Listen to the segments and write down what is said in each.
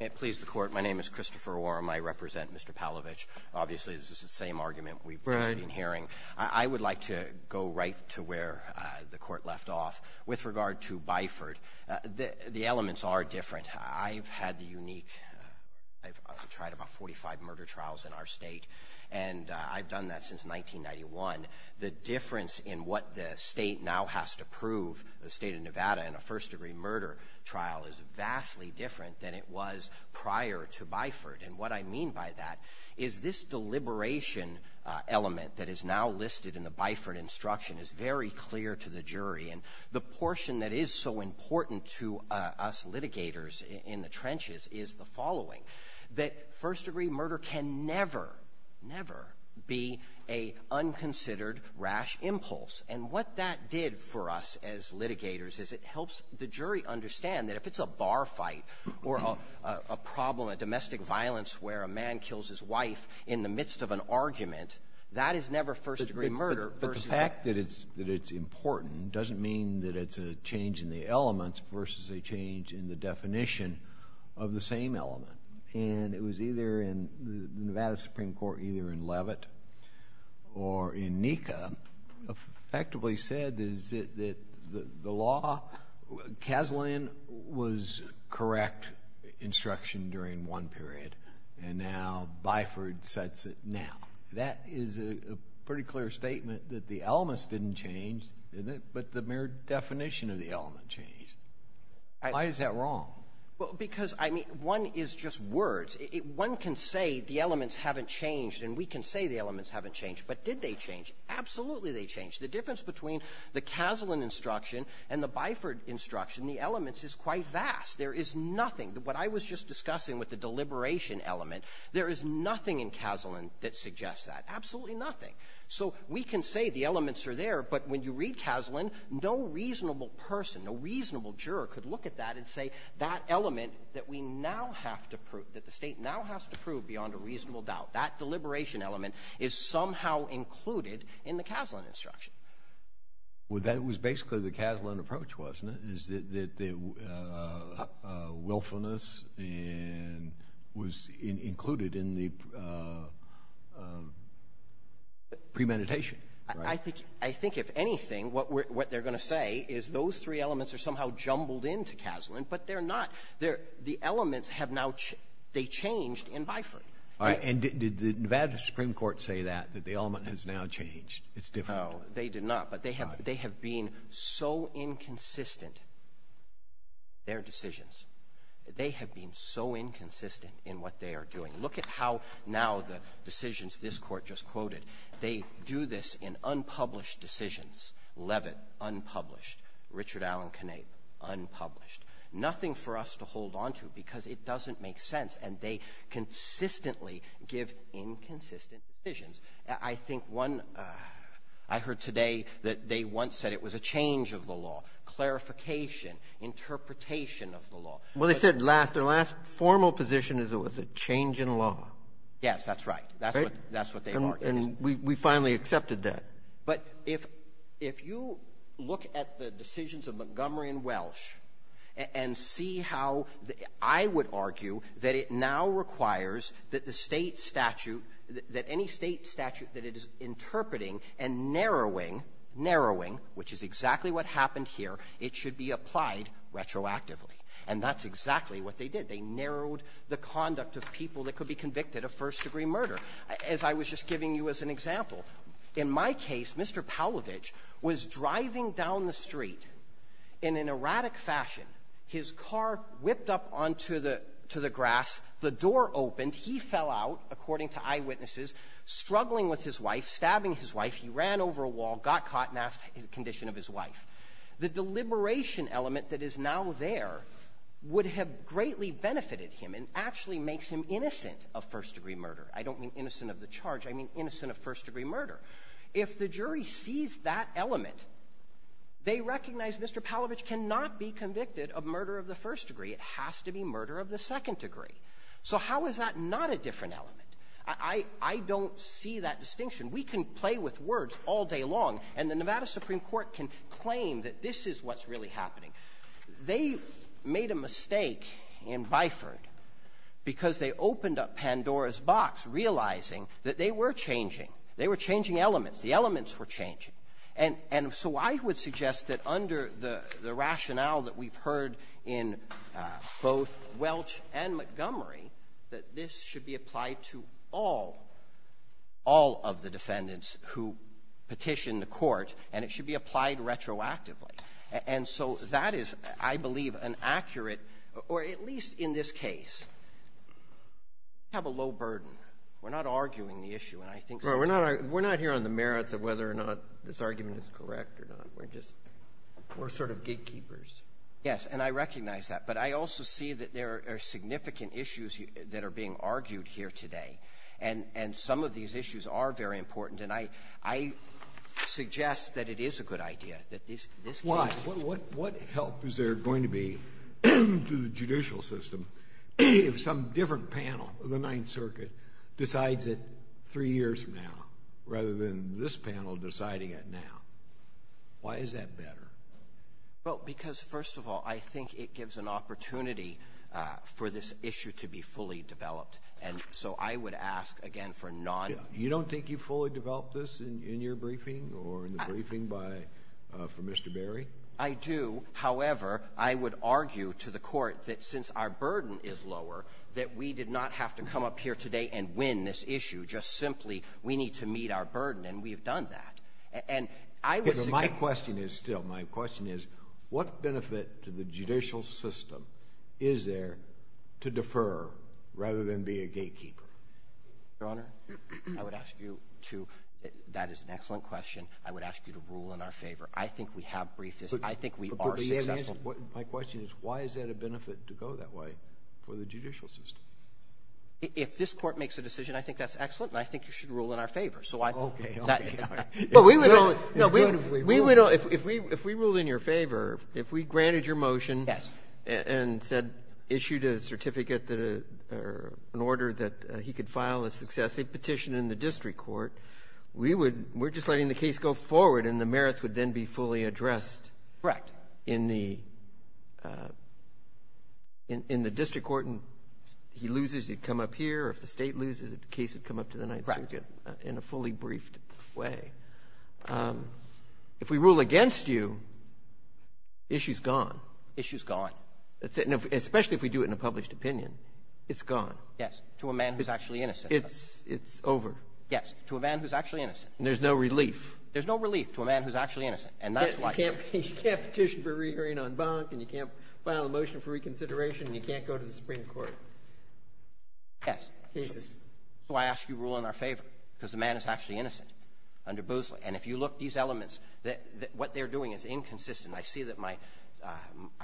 May it please the court, my name is Christopher Warren. I represent Mr. Palovich. Obviously this is the same argument we've been hearing. I would like to go right to where the court left off with regard to Byford. The elements are different. I've had the unique, I've tried about 45 murder trials in our state and I've done that since 1991. The difference in what the state now has to do is vastly different than it was prior to Byford. And what I mean by that is this deliberation element that is now listed in the Byford instruction is very clear to the jury. And the portion that is so important to us litigators in the trenches is the following. That first degree murder can never, never be a unconsidered rash impulse. And what that did for us as litigators is it helps the fight or a problem, a domestic violence where a man kills his wife in the midst of an argument. That is never first-degree murder. But the fact that it's important doesn't mean that it's a change in the elements versus a change in the definition of the same element. And it was either in the Nevada Supreme Court, either in Levitt or in NECA, effectively said that the law, Kaslan was correct instruction during one period and now Byford sets it now. That is a pretty clear statement that the elements didn't change, but the mere definition of the element changed. Why is that wrong? Well, because I mean one is just words. One can say the elements haven't changed and we can say the elements haven't changed, but did they change? Absolutely they changed. The Kaslan instruction and the Byford instruction, the elements, is quite vast. There is nothing. What I was just discussing with the deliberation element, there is nothing in Kaslan that suggests that. Absolutely nothing. So we can say the elements are there, but when you read Kaslan, no reasonable person, no reasonable juror could look at that and say that element that we now have to prove, that the State now has to prove beyond a reasonable doubt, that deliberation element is somehow included in the Kaslan instruction. Well, that was basically the Kaslan approach, wasn't it, is that the willfulness was included in the premeditation. I think, I think if anything, what they're going to say is those three elements are somehow jumbled into Kaslan, but they're not. The elements have now, they changed in Byford. And did the Nevada Supreme Court say that, that the element has now changed? It's different. No, they did not. But they have, they have been so inconsistent, their decisions, they have been so inconsistent in what they are doing. Look at how now the decisions this Court just quoted, they do this in unpublished decisions. Levitt, unpublished. Richard Allen Knape, unpublished. Nothing for us to hold onto because it doesn't make sense. And they consistently give inconsistent decisions. I think one thing, I heard today that they once said it was a change of the law, clarification, interpretation of the law. Well, they said last, their last formal position is it was a change in law. Yes, that's right. Right? That's what they argued. And we finally accepted that. But if you look at the decisions of Montgomery and Welsh and see how, I would argue that it now requires that the State statute, that any State statute that it is interpreted as interpreting and narrowing, narrowing, which is exactly what happened here, it should be applied retroactively. And that's exactly what they did. They narrowed the conduct of people that could be convicted of first-degree murder. As I was just giving you as an example, in my case, Mr. Paulovich was driving down the street in an erratic condition of his wife. He ran over a wall, got caught, and asked the condition of his wife. The deliberation element that is now there would have greatly benefited him and actually makes him innocent of first-degree murder. I don't mean innocent of the charge. I mean innocent of first-degree murder. If the jury sees that element, they recognize Mr. Paulovich cannot be convicted of murder of the first degree. It has to be murder of the second degree. So how is that not a different element? I don't see that distinction. We can play with words all day long, and the Nevada Supreme Court can claim that this is what's really happening. They made a mistake in Byford because they opened up Pandora's box, realizing that they were changing. They were changing elements. The elements were changing. And so I would suggest that under the rationale that we've heard in both Welch and Montgomery, that this should be applied to all, all of the defendants who petitioned the court, and it should be applied retroactively. And so that is, I believe, an accurate, or at least in this case, we have a low burden. We're not arguing the issue, and I think so. Right. We're not here on the merits of whether or not this argument is correct or not. We're just, we're sort of gatekeepers. Yes, and I recognize that. But I also see that there are significant issues that are being argued here today, and some of these issues are very important, and I suggest that it is a good idea that this case… Why? What help is there going to be to the judicial system if some different panel of the Ninth Circuit decides it three years from now, rather than this panel deciding it now? Why is that better? Well, because, first of all, I think it gives an opportunity for this issue to be fully developed, and so I would ask, again, for non- You don't think you've fully developed this in your briefing, or in the briefing by, for Mr. Berry? I do. However, I would argue to the court that since our burden is lower, that we did not have to come up here today and win this issue. Just simply, we need to meet our burden, and we've done that. And I would suggest… My question is, what benefit to the judicial system is there to defer, rather than be a gatekeeper? Your Honor, I would ask you to… That is an excellent question. I would ask you to rule in our favor. I think we have briefed this. I think we are successful. My question is, why is that a benefit to go that way for the judicial system? If this court makes a decision, I think that's excellent, and I think you should rule in our favor. Okay. Okay. It's good if we rule in your favor. If we ruled in your favor, if we granted your motion and said, issued a certificate that an order that he could file a successive petition in the district court, we would — we're just letting the case go forward, and the merits would then be fully addressed in the district court, and if he loses, he'd come up here, or if the State loses, the case would be fully briefed away. If we rule against you, the issue is gone. Issue is gone. That's it. Especially if we do it in a published opinion, it's gone. Yes. To a man who is actually innocent. It's over. Yes. To a man who is actually innocent. And there's no relief. There's no relief to a man who is actually innocent, and that's why… You can't petition for a re-hearing on bunk, and you can't file a motion for reconsideration, and you can't go to the Supreme Court. Yes. Cases. That's why I asked you to rule in our favor, because the man is actually innocent, under Boozley. And if you look at these elements, what they're doing is inconsistent. I see that my… I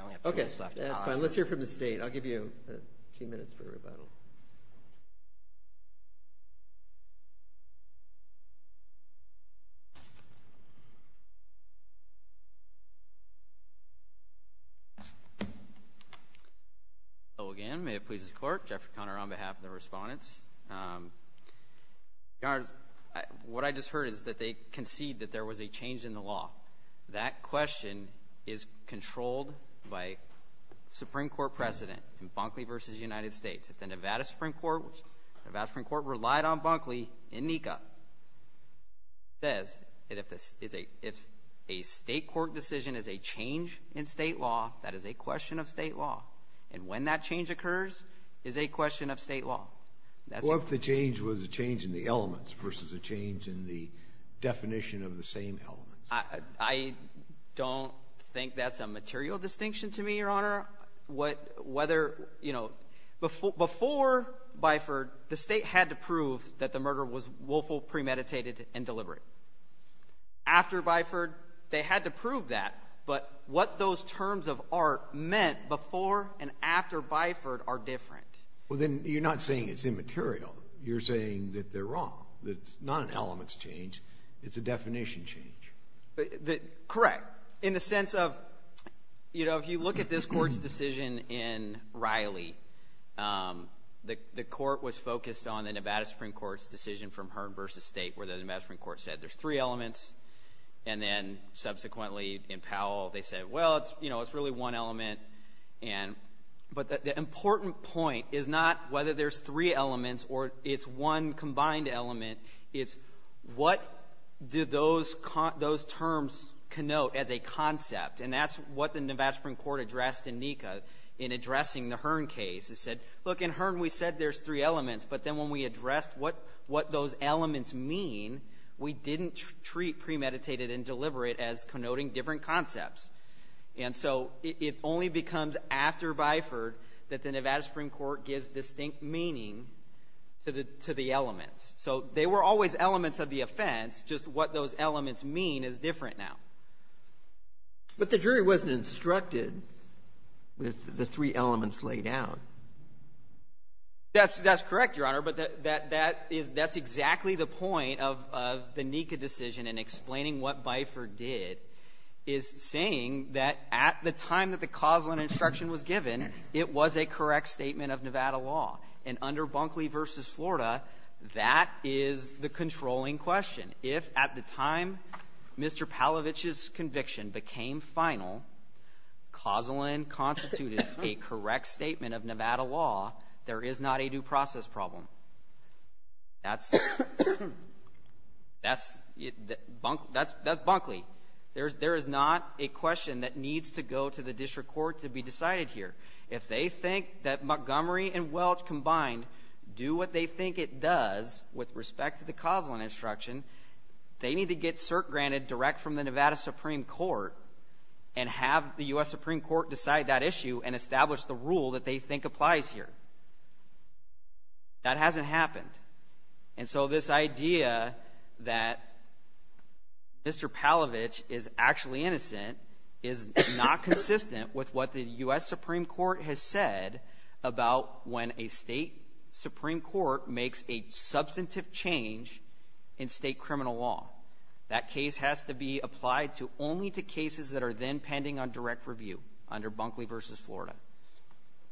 only have two minutes left. Okay. That's fine. Let's hear from the State. I'll give you a few minutes for rebuttal. Hello again. May it please the Court that I'm here on behalf of the Respondents. Your Honors, what I just heard is that they concede that there was a change in the law. That question is controlled by Supreme Court precedent in Bunkley v. United States. If the Nevada Supreme Court relied on Bunkley in NECA, it says that if a State court decision is a change in State law, that is a question of State law. And when that change occurs is a question of State law. What if the change was a change in the elements versus a change in the definition of the same elements? I don't think that's a material distinction to me, Your Honor. Whether, you know, before Biford, the State had to prove that the murder was willful, premeditated, and deliberate. After Biford, they had to prove that. But what those terms of art meant before and after Biford are different. Well, then you're not saying it's immaterial. You're saying that they're wrong. That it's not an elements change. It's a definition change. Correct. In the sense of, you know, if you look at this Court's decision in Riley, the Court was focused on the Nevada Supreme Court's decision from Hearn v. State where the Nevada Supreme Court said there's three Powell. They said, well, you know, it's really one element. But the important point is not whether there's three elements or it's one combined element. It's what did those terms connote as a concept? And that's what the Nevada Supreme Court addressed in NECA in addressing the Hearn case. It said, look, in Hearn, we said there's three elements. But then when we addressed what those elements mean, we didn't treat premeditated and deliberate as connoting different concepts. And so it only becomes after Biford that the Nevada Supreme Court gives distinct meaning to the elements. So they were always elements of the offense. Just what those elements mean is different now. But the jury wasn't instructed with the three elements laid out. That's correct, Your Honor. But that's exactly the point of the NECA decision in explaining what Biford did, is saying that at the time that the Causland instruction was given, it was a correct statement of Nevada law. And under Bunkley v. Florida, that is the controlling question. If at the time Mr. Palavich's conviction became final, Causland constituted a correct statement of Nevada law, there is not a due process problem. That's, that's, that's Bunkley. There's, there is not a question that needs to go to the district court to be decided here. If they think that Montgomery and Welch combined do what they think it does with respect to the Causland instruction, they need to get cert granted direct from the Nevada Supreme Court and have the U.S. Supreme Court decide that issue and establish the rule that they think applies here. That hasn't happened. And so this idea that Mr. Palavich is actually innocent is not consistent with what the U.S. Supreme Court has said about when a state Supreme Court makes a substantive change in state criminal law. That case has to be applied to only to cases that are then pending on direct review under Bunkley v. Florida.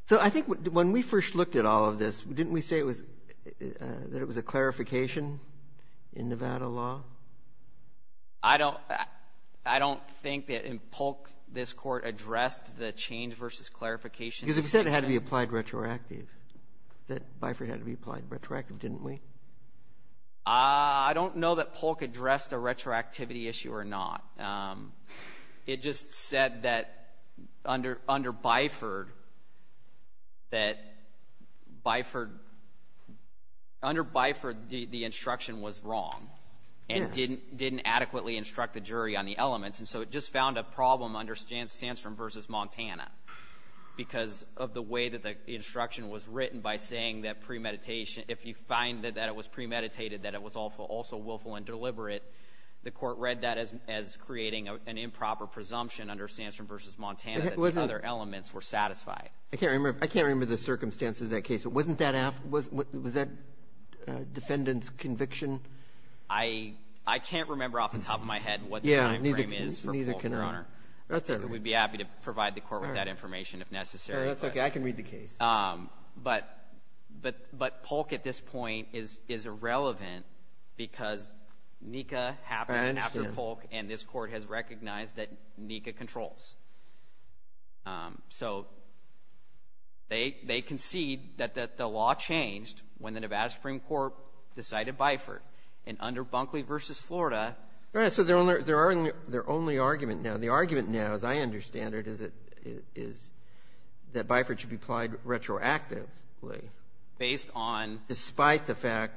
So I think when we first looked at all of this, didn't we say it was, that it was a clarification in Nevada law? I don't, I don't think that in Polk this court addressed the change versus clarification Because it said it had to be applied retroactive, that Byford had to be applied retroactive, didn't we? I don't know that Polk addressed a retroactivity issue or not. It just said that under, under Byford, that Byford, under Byford the instruction was wrong and didn't, didn't adequately instruct the jury on the elements and so it just found a problem under Sandstrom v. Montana because of the way that the instruction was written by saying that premeditation, if you find that it was premeditated, that it was also willful and deliberate, the court read that as creating an improper presumption under Sandstrom v. Montana that the other elements were satisfied. I can't remember, I can't remember the circumstances of that case, but wasn't that, was that defendant's conviction? I can't remember off the top of my head what the time frame is for Polk, Your Honor. That's okay. We'd be happy to provide the court with that information if necessary. That's okay, I can read the case. But Polk at this point is irrelevant because NECA happened after Polk and this court has so they concede that the law changed when the Nevada Supreme Court decided Byford and under Bunkley v. Florida. Your Honor, so their only argument now, the argument now as I understand it is that Byford should be applied retroactively based on, despite the fact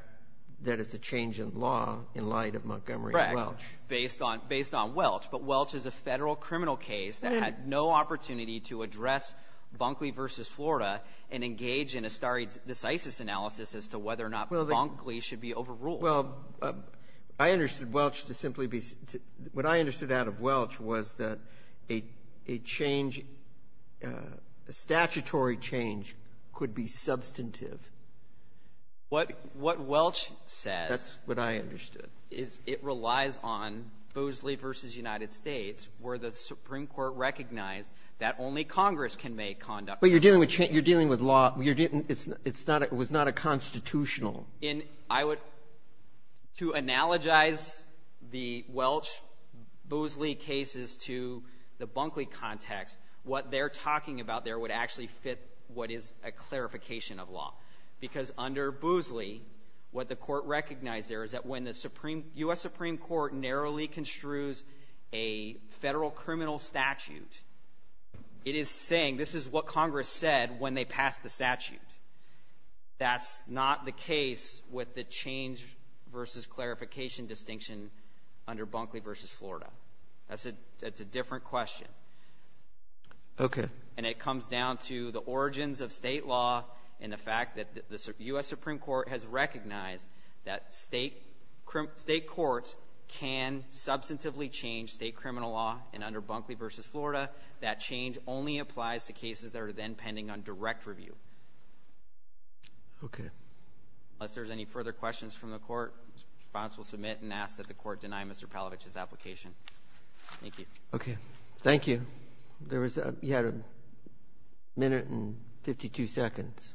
that it's a change in law in light of Montgomery and Welch. Based on, based on Welch. But Welch is a Federal criminal case that had no opportunity to address Bunkley v. Florida and engage in a stare decisis analysis as to whether or not Bunkley should be overruled. Well, I understood Welch to simply be, what I understood out of Welch was that a, a change, a statutory change could be substantive. What, what Welch says. That's what I understood. Is it relies on Boozley v. United States where the Supreme Court recognized that only Congress can make conduct. But you're dealing with, you're dealing with law, you're dealing, it's not, it was not a constitutional. In, I would, to analogize the Welch-Boozley cases to the Bunkley context, what they're talking about there would actually fit what is a clarification of law. Because under Boozley, what the court recognized there is that when the Supreme, U.S. Supreme Court narrowly construes a Federal criminal statute, it is saying this is what Congress said when they passed the statute. That's not the case with the change versus clarification distinction under Bunkley v. Florida. That's a, that's a different question. Okay. And it comes down to the origins of state law and the fact that the U.S. Supreme Court has recognized that state, state courts can substantively change state criminal law. And under Bunkley v. Florida, that change only applies to cases that are then pending on direct review. Okay. Unless there's any further questions from the court, the response will submit and ask that the court deny Mr. Palovich's application. Thank you. Okay. Thank you. There was a, you had a minute and 52 seconds.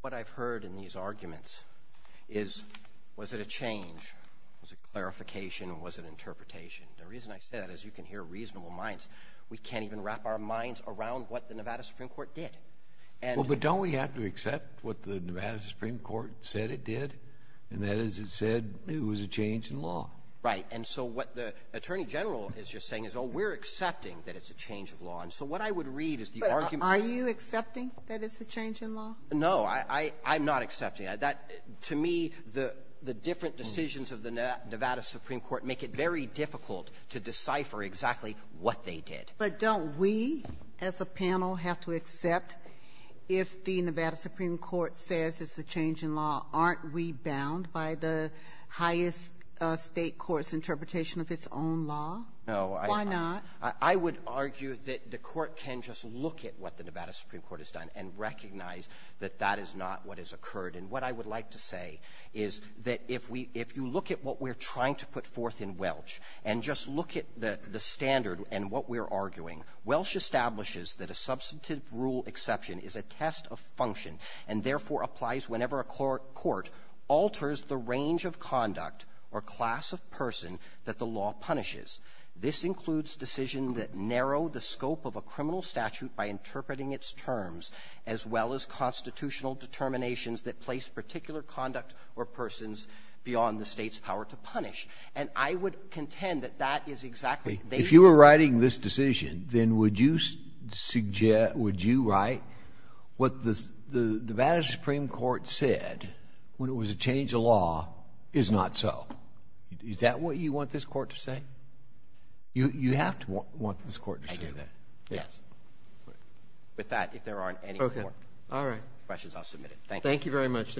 What I've heard in these arguments is, was it a change, was it clarification, was it interpretation? The reason I say that is you can hear reasonable minds. We can't even wrap our minds around what the Nevada Supreme Court did. And. Well, but don't we have to accept what the Nevada Supreme Court said it did? And that is it said it was a change in law. Right. And so what the attorney general is just saying is, oh, we're accepting that it's a change of law. And so what I would read is the argument. Are you accepting that it's a change in law? No, I, I'm not accepting that. To me, the, the different decisions of the Nevada Supreme Court make it very difficult to decipher exactly what they did. But don't we as a panel have to accept if the Nevada Supreme Court says it's a change in law, aren't we bound by the highest State court's interpretation of its own law? No. Why not? I would argue that the Court can just look at what the Nevada Supreme Court has done and recognize that that is not what has occurred. And what I would like to say is that if we, if you look at what we're trying to put forth in Welch, and just look at the standard and what we're arguing, Welch establishes that a substantive rule exception is a test of function, and therefore applies whenever a court alters the range of conduct or class of person that the law punishes. This includes decisions that narrow the scope of a criminal statute by interpreting its terms, as well as constitutional determinations that place particular conduct or persons beyond the State's power to punish. And I would contend that that is exactly what they did. If you were writing this decision, then would you suggest, would you write what the Nevada Supreme Court said, when it was a change of law, is not so? Is that what you want this Court to say? You have to want this Court to say that. I do. Yes. With that, if there aren't any questions, I'll submit it. Thank you. Thank you very much.